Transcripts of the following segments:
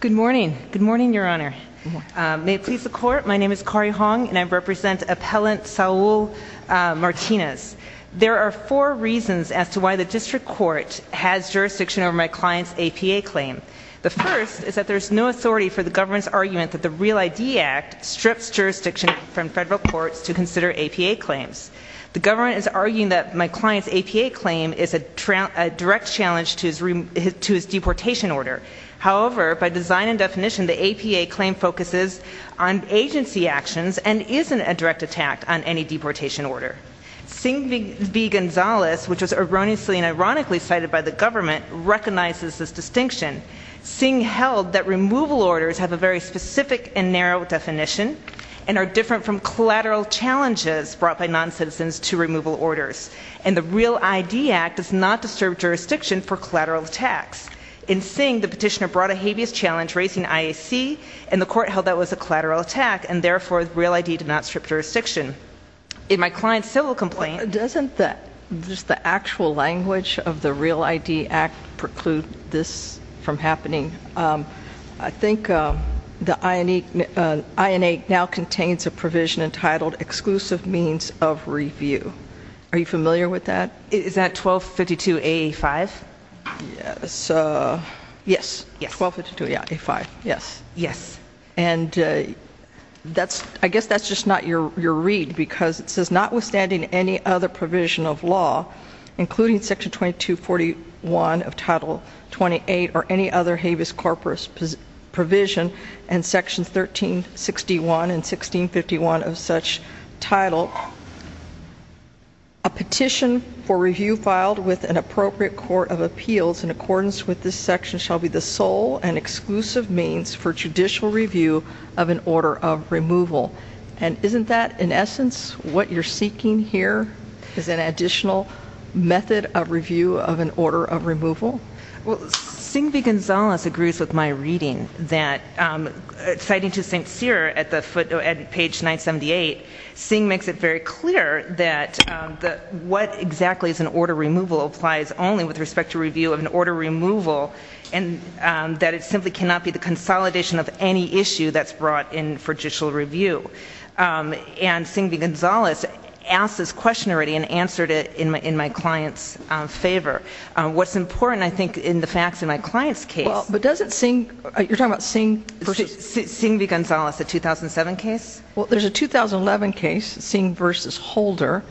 Good morning. Good morning, Your Honor. May it please the Court, my name is Kari Hong and I represent Appellant Saul Martinez. There are four reasons as to why the District Court has jurisdiction over my client's APA claim. The first is that there's no authority for the government's argument that the REAL ID Act strips jurisdiction from federal courts to consider APA claims. The government is arguing that my client's APA claim is a direct challenge to his deportation order. However, by design and definition, the APA claim focuses on agency actions and isn't a direct attack on any deportation order. Singh v. Gonzalez, which was erroneously and ironically cited by the government, recognizes this distinction. Singh held that removal orders have a very specific and narrow definition and are different from collateral challenges brought by non-citizens to removal orders. And the REAL ID Act does not disturb jurisdiction for collateral attacks. In Singh, the petitioner brought a habeas challenge raising IAC and the court held that was a collateral attack and therefore REAL ID did not strip jurisdiction. In my client's civil complaint... Doesn't that just the actual language of the REAL ID Act preclude this from happening? I think the INA now contains a provision entitled Exclusive Means of Review. Are you familiar with that? Is that 1252A5? Yes. Yes. 1252A5. Yes. Yes. And that's, I guess that's just not your read because it says notwithstanding any other provision of law including section 2241 of title 28 or any other habeas corpus provision and sections 1361 and 1651 of such title, a petition for review filed with an appropriate court of appeals in accordance with this section shall be the sole and exclusive means for judicial review of an order of removal. And isn't that in essence what you're seeking here? Is an additional method of review of an order of removal? Well, Singh V. Gonzalez agrees with my reading that, citing to St. Cyr at the footnote at page 978, Singh makes it very clear that what exactly is an order removal applies only with respect to review of an order removal and that it simply cannot be the consolidation of any issue that's brought in for judicial review. And Singh V. Gonzalez asked this question already and answered it in my client's favor. What's important I think in the facts in my client's case... But doesn't there's a 2011 case, Singh v. Holder,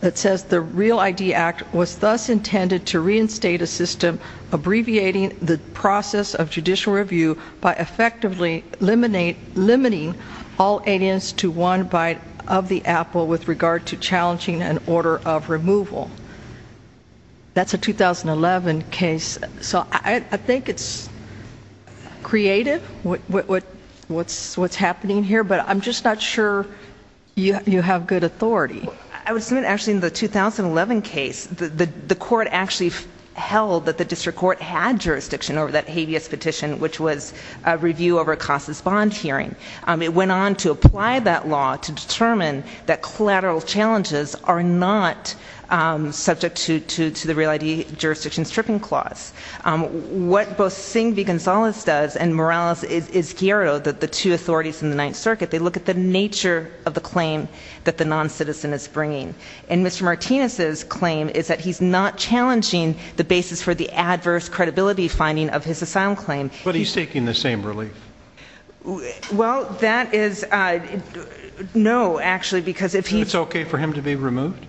that says the REAL-ID Act was thus intended to reinstate a system abbreviating the process of judicial review by effectively limiting all aliens to one bite of the apple with regard to challenging an order of removal. That's a 2011 case. So I think it's creative, what's happening here, but I'm just not sure you have good authority. I would submit actually in the 2011 case, the court actually held that the district court had jurisdiction over that habeas petition, which was a review over a costless bond hearing. It went on to apply that law to determine that collateral challenges are not subject to the REAL-ID jurisdiction stripping clause. What both Singh V. Gonzalez does and Morales Izquierdo, the two authorities in the Ninth Circuit, they look at the nature of the claim that the non-citizen is bringing. And Mr. Martinez's claim is that he's not challenging the basis for the adverse credibility finding of his asylum claim. But he's taking the same relief. Well that is no, actually, because it's okay for him to be removed?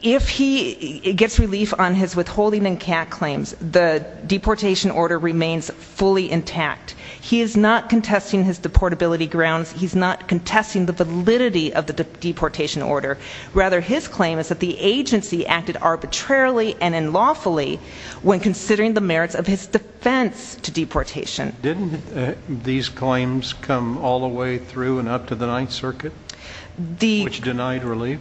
If he gets relief on his withholding and CAC claims, the deportation order remains fully intact. He is not contesting his deportability grounds. He's not contesting the validity of the deportation order. Rather, his claim is that the agency acted arbitrarily and unlawfully when considering the merits of his defense to deportation. Didn't these claims come all the way through and up to the Ninth Circuit, which denied relief?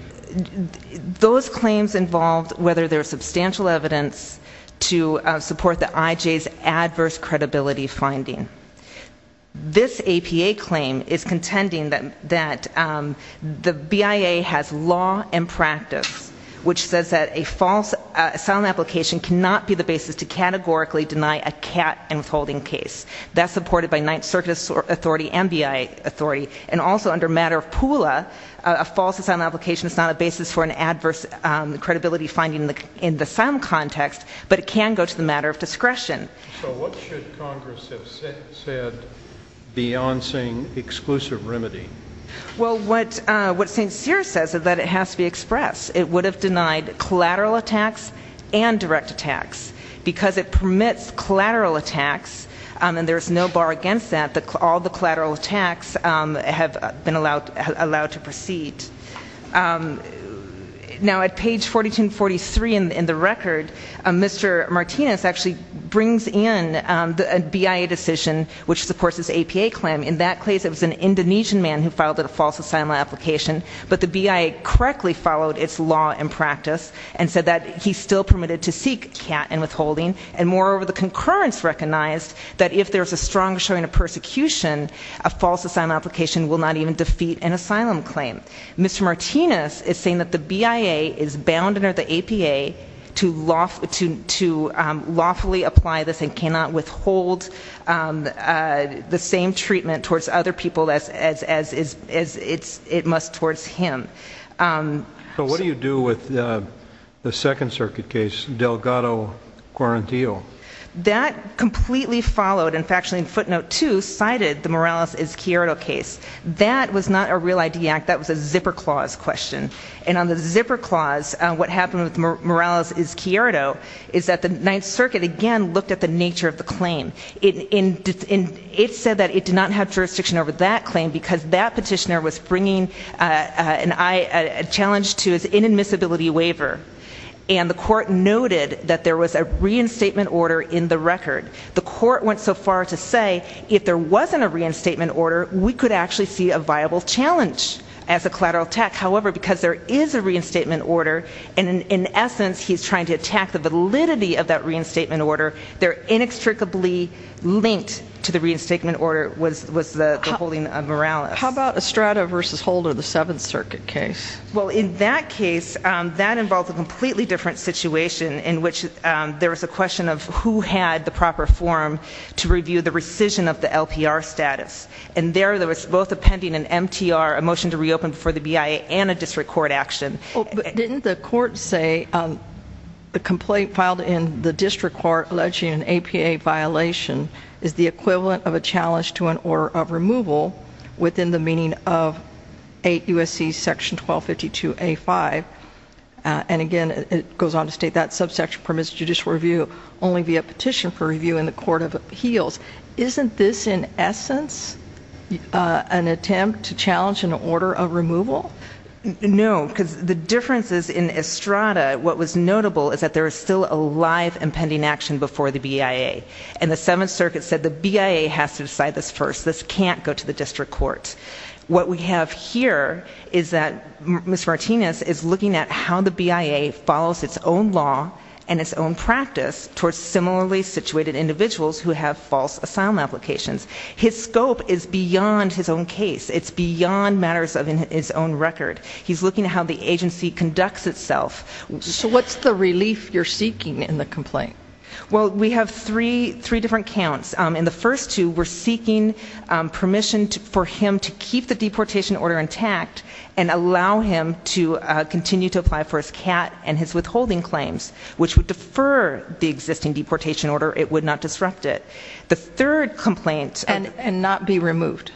Those claims involved whether there's substantial evidence to support the IJ's adverse credibility finding. This APA claim is contending that the BIA has law and practice, which says that a false asylum application cannot be the basis to categorically deny a CAT and withholding case. That's supported by Ninth Circuit authority and BIA authority. And also under matter of PULA, a false asylum application is not a basis for an adverse credibility finding in the asylum context, but it can go to the matter of discretion. So what should Congress have said, beyond saying exclusive remedy? Well, what St. Cyr says is that it has to be expressed. It would have denied collateral attacks and direct attacks. Because it permits collateral attacks, and there's no bar against that, all the collateral attacks have been allowed to proceed. Now at page 4243 in the record, Mr. Martinez actually brings in the BIA decision, which supports this APA claim. In that case, it was an Indonesian man who filed a false asylum application, but the BIA correctly followed its law and practice and said that he's still permitted to seek CAT and withholding. And moreover, the concurrence recognized that if there's a strong showing of persecution, a false asylum application will not even defeat an asylum claim. Mr. Martinez is saying that the BIA is bound under the APA to lawfully apply this and cannot withhold the same treatment towards other people as it must towards him. So what do you do with the Second Circuit case, Delgado Quarantio? That completely followed, and factually in footnote 2, cited the Morales-Izquierdo case. That was not a real ID act, that was a zipper clause question. And on the zipper clause, what happened with Morales-Izquierdo is that the Ninth Circuit again looked at the nature of the claim. It said that it did not have jurisdiction over that claim because that petitioner was bringing a challenge to his inadmissibility waiver, and the court noted that there was a reinstatement order in the record. The court went so far to say if there wasn't a reinstatement order, we could actually see a viable challenge as a collateral attack. However, because there is a reinstatement order, and in essence he's trying to attack the validity of that reinstatement order, they're inextricably linked to the reinstatement order was the withholding of Morales. How about Estrada v. Holder, the Seventh Circuit case? Well, in that case, that involved a completely different situation in which there was a question of who had the proper forum to review the rescission of the LPR status. And there, there was both a pending an MTR, a motion to reopen for the BIA, and a district court action. Didn't the court say the complaint filed in the district court alleging an APA violation is the equivalent of a challenge to an order of removal? No, because the difference is in Estrada, what was notable is that there is still a live and pending action before the BIA. And the Seventh Circuit said the BIA has to decide this first. This can't go to the district court. What we have here is that Ms. Martinez is looking at how the BIA follows its own law and its own practice towards similarly situated individuals who have false asylum applications. His scope is beyond his own case. It's beyond matters of his own record. He's looking at how the agency conducts itself. So what's the relief you're seeking in the complaint? Well, we have three, three different accounts. In the first two, we're seeking permission for him to keep the deportation order intact and allow him to continue to apply for his CAT and his withholding claims, which would defer the existing deportation order. It would not disrupt it. The third complaint... And, and not be removed.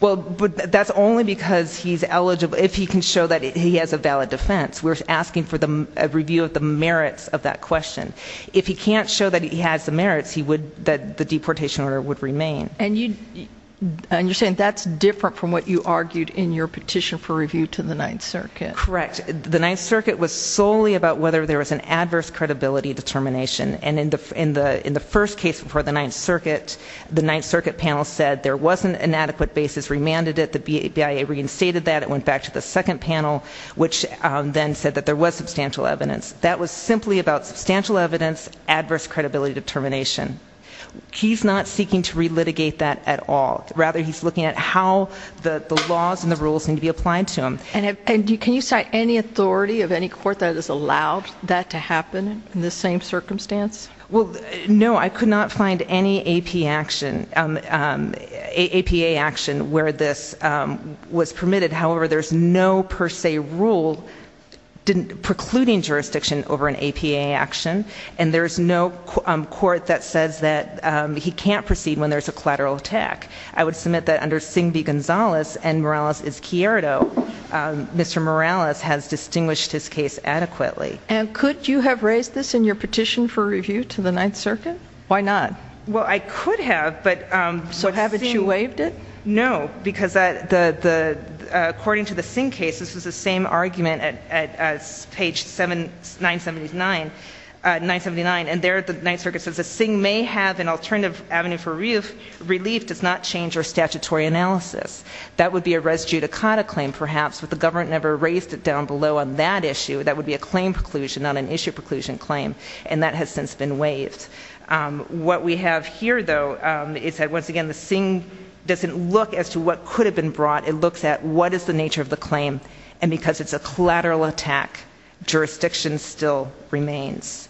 Well, but that's only because he's eligible, if he can show that he has a valid defense. We're asking for the review of the merits of that question. If he can't show that he has the merits, he would, that the deportation order would remain. And you, and you're saying that's different from what you argued in your petition for review to the Ninth Circuit. Correct. The Ninth Circuit was solely about whether there was an adverse credibility determination. And in the, in the, in the first case before the Ninth Circuit, the Ninth Circuit panel said there was an inadequate basis, remanded it. The BIA reinstated that. It went back to the second panel, which then said that there was substantial evidence. That was determination. He's not seeking to re-litigate that at all. Rather, he's looking at how the, the laws and the rules need to be applied to him. And if, and you, can you cite any authority of any court that has allowed that to happen in the same circumstance? Well, no, I could not find any AP action, APA action, where this was permitted. However, there's no per se rule didn't, precluding jurisdiction over an APA action. And there's no court that says that he can't proceed when there's a collateral attack. I would submit that under Singh v. Gonzalez and Morales v. Izquierdo, Mr. Morales has distinguished his case adequately. And could you have raised this in your petition for review to the Ninth Circuit? Why not? Well, I could have, but... So haven't you waived it? No, because the, the, according to the Singh case, this was the same argument at, at page 7, 979, 979, and there the Ninth Circuit says that Singh may have an alternative avenue for relief, relief does not change our statutory analysis. That would be a res judicata claim, perhaps, but the government never raised it down below on that issue. That would be a claim preclusion, not an issue preclusion claim. And that has since been waived. What we have here, though, is that once again, the Singh doesn't look as to what could have been brought. It looks at is the nature of the claim, and because it's a collateral attack, jurisdiction still remains.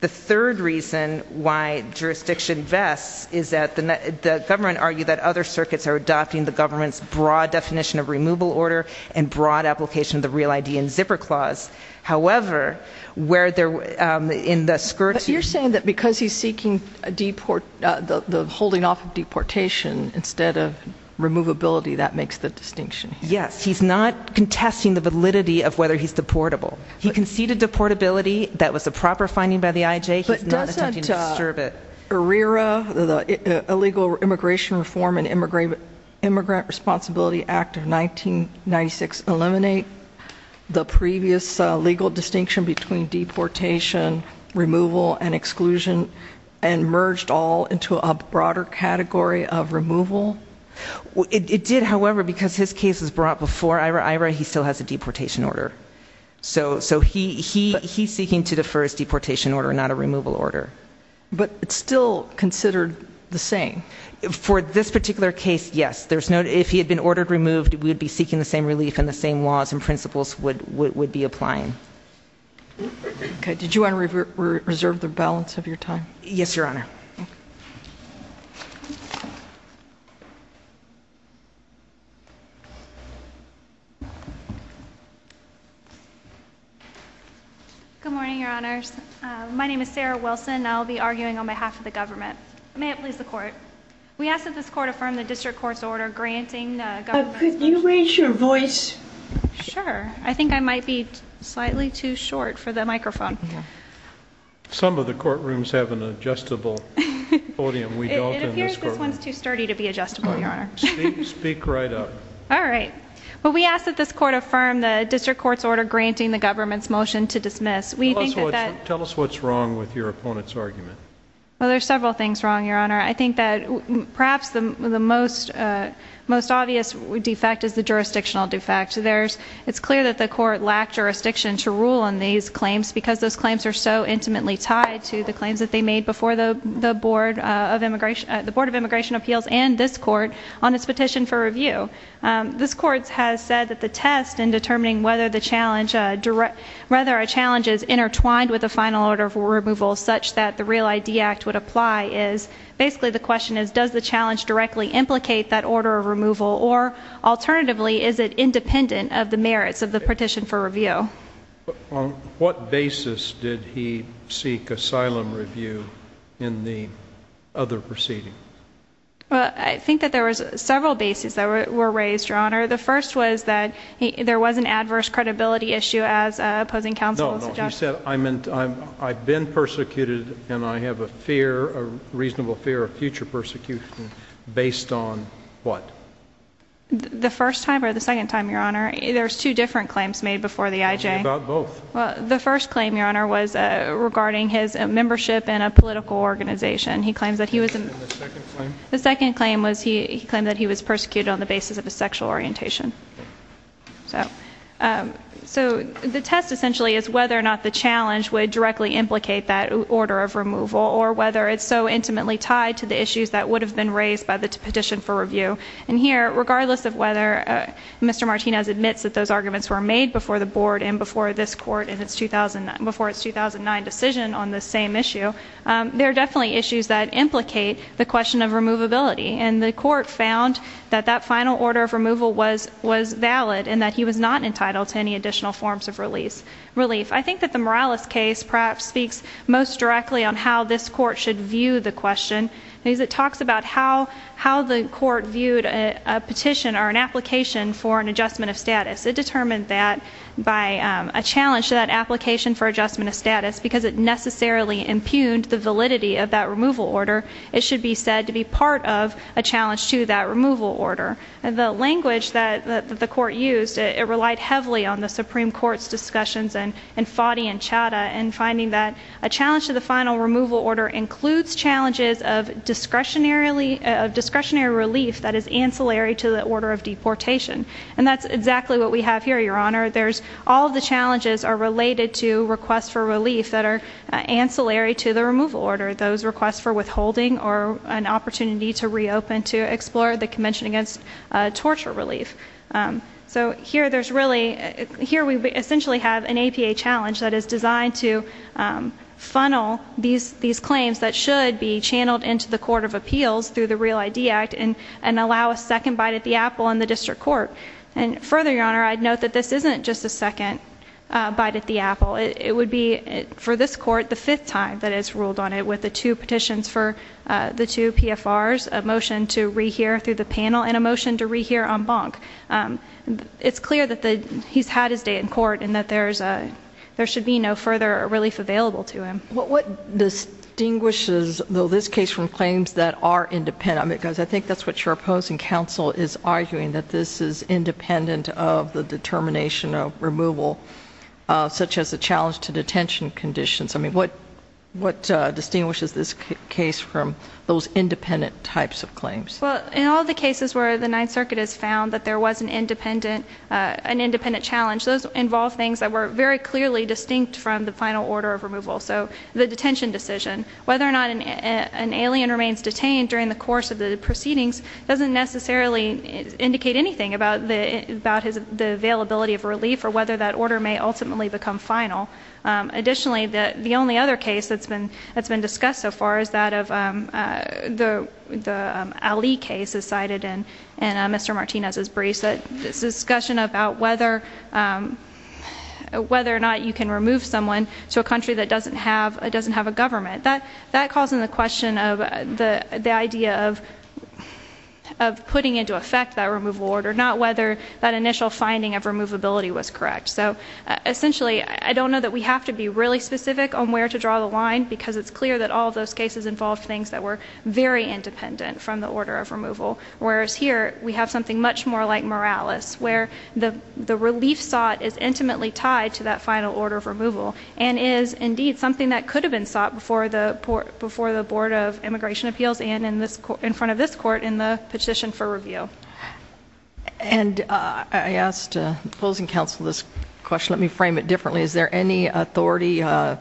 The third reason why jurisdiction vests is that the, the government argued that other circuits are adopting the government's broad definition of removal order and broad application of the Real ID and Zipper Clause. However, where there, in the skirt... But you're saying that because he's seeking a deport, the, the holding off of deportation instead of removability, that makes the distinction. Yes, he's not contesting the validity of whether he's deportable. He conceded deportability, that was a proper finding by the IJ, he's not attempting to disturb it. But doesn't, uh, IRERA, the Illegal Immigration Reform and Immigrant, Immigrant Responsibility Act of 1996, eliminate the previous legal distinction between deportation, removal, and exclusion, and merged all into a broader category of removal? It did, however, because his case is brought before IRERA. IRERA, he still has a deportation order. So, so he, he, he's seeking to defer his deportation order, not a removal order. But it's still considered the same. For this particular case, yes. There's no, if he had been ordered removed, we would be seeking the same relief and the same laws and Okay. Did you want to reserve the balance of your time? Yes, Your Honor. Good morning, Your Honors. My name is Sarah Wilson. I'll be arguing on behalf of the government. May it please the court. We ask that this court affirm the district court's order granting. Could you raise your voice? Sure. I think I might be slightly too short for the microphone. Some of the courtrooms have an adjustable podium. We don't in this courtroom. It appears this one's too sturdy to be adjustable, Your Honor. Speak, speak right up. All right. Well, we ask that this court affirm the district court's order granting the government's motion to dismiss. We think that that. Tell us what's wrong with your opponent's argument. Well, there's several things wrong, Your Honor. I think that perhaps the most, most obvious defect is the jurisdictional defect. There's, it's clear that the court lacked jurisdiction to rule on these claims because those claims are so intimately tied to the claims that they made before the, the Board of Immigration, the Board of Immigration Appeals and this court on its petition for review. This court has said that the test in determining whether the challenge direct, whether a challenge is intertwined with the final order of removal such that the Real ID Act would apply is basically the question is does the challenge directly implicate that order of removal or alternatively is it independent of the merits of the petition for review? On what basis did he seek asylum review in the other proceeding? Well, I think that there was several bases that were raised, Your Honor. The first was that there was an adverse credibility issue as opposing counsel suggested. No, no, he said I'm in, I've been persecuted and I have a fear, a reasonable fear of future persecution based on what? The first time or the second time, Your Honor, there's two different claims made before the IJ. What about both? Well, the first claim, Your Honor, was regarding his membership in a political organization. He claims that he was in, the second claim was he claimed that he was persecuted on the basis of a sexual orientation. So, so the test essentially is whether or not the challenge would directly implicate that order of removal or whether it's so raised by the petition for review. And here, regardless of whether Mr. Martinez admits that those arguments were made before the board and before this court in its 2000, before its 2009 decision on the same issue, there are definitely issues that implicate the question of removability. And the court found that that final order of removal was, was valid and that he was not entitled to any additional forms of release, relief. I think that the Morales case perhaps speaks most directly on how this court should view the question because it how, how the court viewed a petition or an application for an adjustment of status. It determined that by a challenge to that application for adjustment of status, because it necessarily impugned the validity of that removal order, it should be said to be part of a challenge to that removal order. And the language that the court used, it relied heavily on the Supreme Court's discussions and and Fadi and Chadha and finding that a challenge to the final removal order includes challenges of discretionary, of discretionary relief that is ancillary to the order of deportation. And that's exactly what we have here, your honor. There's all of the challenges are related to requests for relief that are ancillary to the removal order. Those requests for withholding or an opportunity to reopen to explore the convention against torture relief. Um, so here there's really, here we essentially have an APA that is designed to, um, funnel these, these claims that should be channeled into the Court of Appeals through the Real ID Act and and allow a second bite at the apple in the district court. And further, your honor, I'd note that this isn't just a second bite at the apple. It would be for this court the fifth time that has ruled on it with the two petitions for the two PFRs, a motion to rehear through the panel and emotion to rehear on bonk. Um, it's clear that he's had his day in court and that there's a, there should be no further relief available to him. What distinguishes though this case from claims that are independent because I think that's what you're opposing. Council is arguing that this is independent of the determination of removal, such as the challenge to detention conditions. I mean, what, what distinguishes this case from those independent types of claims? Well, in all the cases where the Ninth Circuit has found that there was an independent, an independent challenge, those involve things that were very clearly distinct from the final order of removal. So the detention decision, whether or not an alien remains detained during the course of the proceedings doesn't necessarily indicate anything about the about his availability of relief or whether that order may ultimately become final. Additionally, the only other case that's been that's been discussed so far is that of, um, the the Ali case is cited in Mr Martinez's briefs that this discussion about whether, um, whether or not you can remove someone to a country that doesn't have, it doesn't have a government that that calls in the question of the idea of, of putting into effect that removal order, not whether that initial finding of removability was correct. So essentially, I don't know that we have to be really specific on where to draw the line because it's clear that all those cases involved things that were very independent from the order of removal. Whereas here we have something much more like Morales where the the relief sought is intimately tied to that final order of removal and is indeed something that could have been sought before the before the Board of Immigration Appeals. And in this in front of this court in the petition for review. And I asked the closing counsel this question. Let me frame it differently. Is there any authority, uh,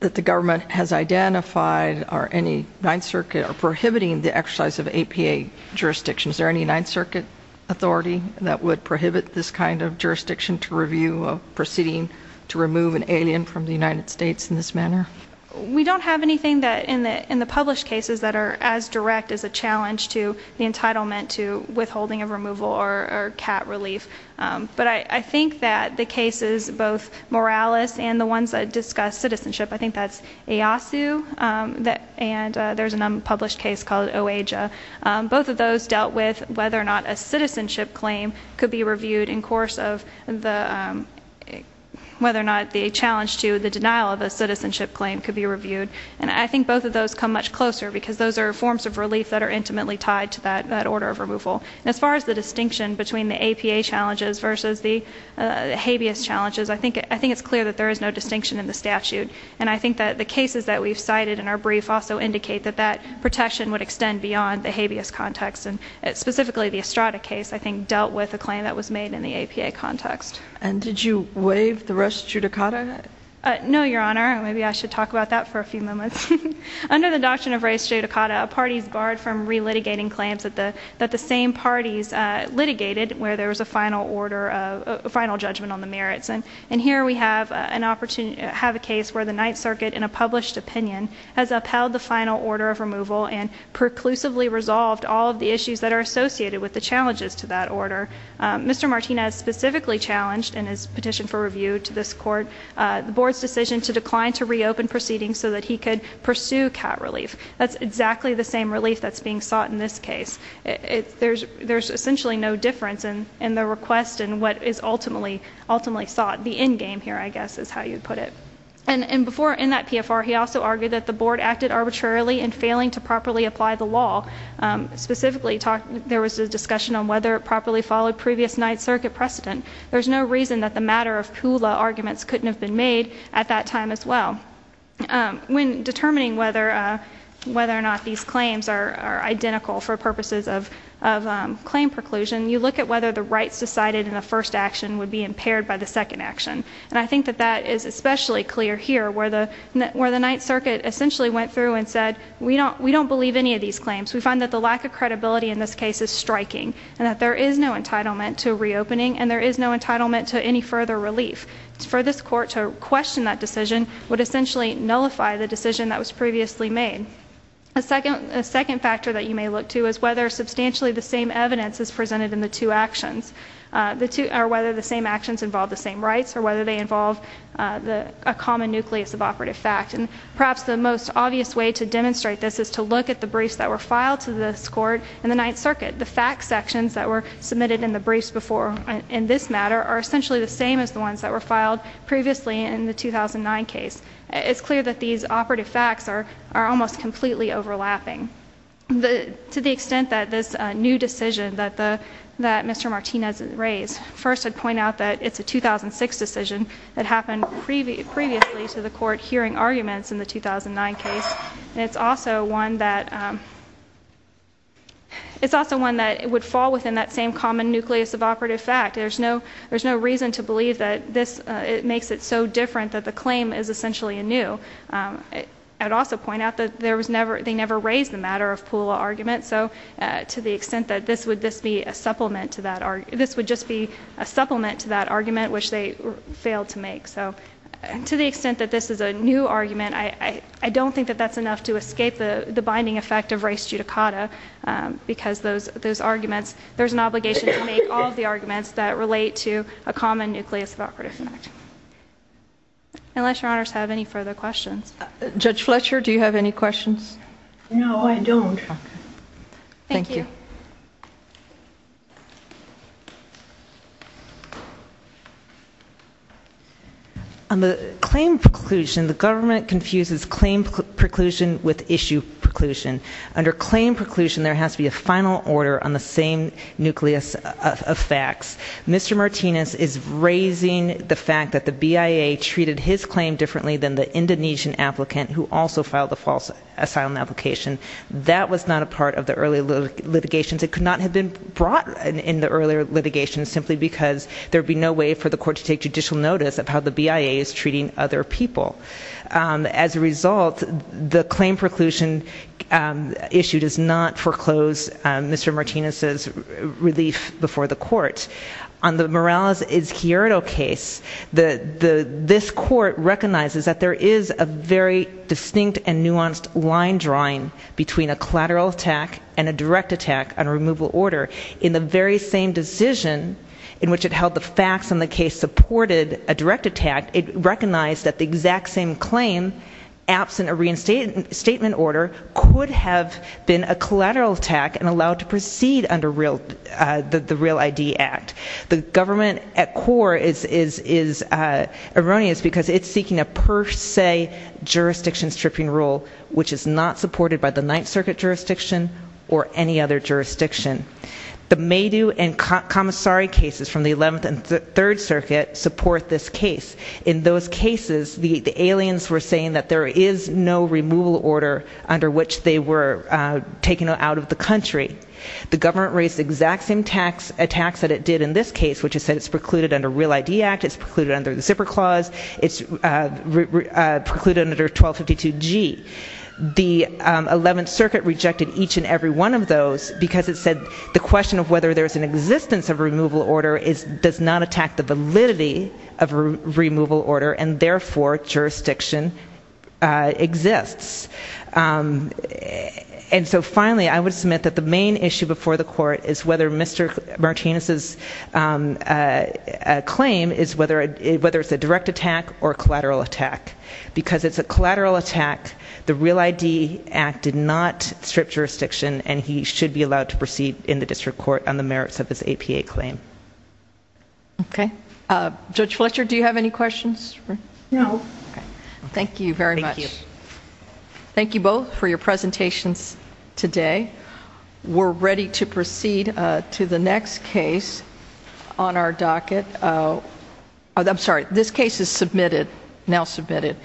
that the government has identified or any Ninth Circuit or prohibiting the exercise of A. P. A. Jurisdiction? Is there any Ninth Circuit authority that would prohibit this kind of jurisdiction to review of proceeding to remove an alien from the United States in this manner? We don't have anything that in the in the published cases that are as direct as a challenge to the entitlement to withholding of removal or cat relief. But I think that the cases both Morales and the ones that discuss citizenship, I think that's a lawsuit. Um, that and there's an unpublished case called Oh, Asia. Both of those dealt with whether or not a citizenship claim could be reviewed in course of the, um, whether or not the challenge to the denial of a citizenship claim could be reviewed. And I think both of those come much closer because those air forms of relief that are intimately tied to that that order of removal. As far as the distinction between the A. P. A. Challenges versus the habeas challenges, I think I think it's clear that there is no distinction in the statute. And I think that the cases that we've cited in our brief also indicate that that protection would extend beyond the habeas context and specifically the Estrada case, I think, dealt with a claim that was made in the A. P. A. Context. And did you waive the rest? Judicata? No, Your Honor. Maybe I should talk about that for a few moments. Under the doctrine of race judicata, parties barred from re litigating claims that the that the final order of final judgment on the merits and and here we have an opportunity have a case where the Ninth Circuit in a published opinion has upheld the final order of removal and preclusively resolved all of the issues that are associated with the challenges to that order. Mr Martinez specifically challenged in his petition for review to this court the board's decision to decline to reopen proceedings so that he could pursue cat relief. That's exactly the same relief that's being sought in this case. There's essentially no difference in in the request and what is ultimately ultimately sought. The end game here, I guess, is how you put it. And and before in that P. F. R. He also argued that the board acted arbitrarily and failing to properly apply the law specifically talked. There was a discussion on whether it properly followed previous Ninth Circuit precedent. There's no reason that the matter of Pula arguments couldn't have been made at that time as well. Um, when determining whether whether or not these claims are identical for purposes of of claim preclusion, you look at whether the rights decided in the first action would be impaired by the second action. And I think that that is especially clear here where the where the Ninth Circuit essentially went through and said, we don't we don't believe any of these claims. We find that the lack of credibility in this case is striking and that there is no entitlement to reopening and there is no entitlement to any further relief for this court to question that decision would essentially nullify the decision that was previously made. A second second factor that you may look to is whether substantially the same evidence is presented in the two actions. Uh, the two are whether the same actions involve the same rights or whether they involve, uh, the common nucleus of operative fact. And perhaps the most obvious way to demonstrate this is to look at the briefs that were filed to this court in the Ninth Circuit. The fact sections that were submitted in the briefs before in this matter are essentially the same as the ones that were filed previously in the 2000 and nine case. It's clear that these operative facts are are almost completely overlapping the to the extent that this new decision that the that Mr Martinez raised first, I'd point out that it's a 2006 decision that happened previously to the court hearing arguments in the 2000 and nine case. It's also one that, um, it's also one that would fall within that same common nucleus of operative fact. There's no, there's no reason to believe that this makes it so different that the claim is essentially a new, um, I'd also point out that there was never, they never raised the matter of pool argument. So, uh, to the extent that this would, this be a supplement to that, this would just be a supplement to that argument, which they failed to make. So to the extent that this is a new argument, I, I don't think that that's enough to escape the binding effect of race judicata. Um, because those, those arguments, there's an obligation to make all of the arguments that relate to a common nucleus of operative fact. Unless your honors have any further questions. Judge Fletcher, do you have any questions? No, I don't. Thank you. On the claim preclusion, the government confuses claim preclusion with issue preclusion. Under claim preclusion, there has to be a final order on the same nucleus of facts. Mr Martinez is raising the fact that the B. I. A. treated his claim differently than the Indonesian applicant who also filed the false asylum application. That was not a part of the early litigations. It could not have been brought in the earlier litigation simply because there would be no way for the court to take judicial notice of how the B. I. A. Is treating other people. Um, as a result, the claim preclusion, um, issue does not foreclose Mr Martinez's relief before the court on the Morales Izquierdo case. The, the, this court recognizes that there is a very distinct and nuanced line drawing between a collateral attack and a direct attack on removal order in the very same decision in which it held the facts in the case supported a direct attack. It recognized that the exact same claim absent a reinstated statement order could have been a collateral attack and allowed to is, is, is erroneous because it's seeking a per se jurisdiction stripping rule which is not supported by the Ninth Circuit jurisdiction or any other jurisdiction. The may do and commissary cases from the 11th and Third Circuit support this case. In those cases, the aliens were saying that there is no removal order under which they were taken out of the country. The government raised the exact same tax attacks that it did in this case, which is that it's precluded under Real ID Act, it's precluded under the zipper clause, it's precluded under 1252 G. The 11th Circuit rejected each and every one of those because it said the question of whether there's an existence of removal order is, does not attack the validity of a removal order and therefore jurisdiction exists. Um, and so finally, I would submit that the claim is whether whether it's a direct attack or collateral attack because it's a collateral attack. The Real I. D. Act did not strip jurisdiction and he should be allowed to proceed in the district court on the merits of his A. P. A. Claim. Okay, Judge Fletcher, do you have any questions? No. Thank you very much. Thank you both for your presentations today. We're ready to docket. Oh, I'm sorry. This case is submitted now submitted.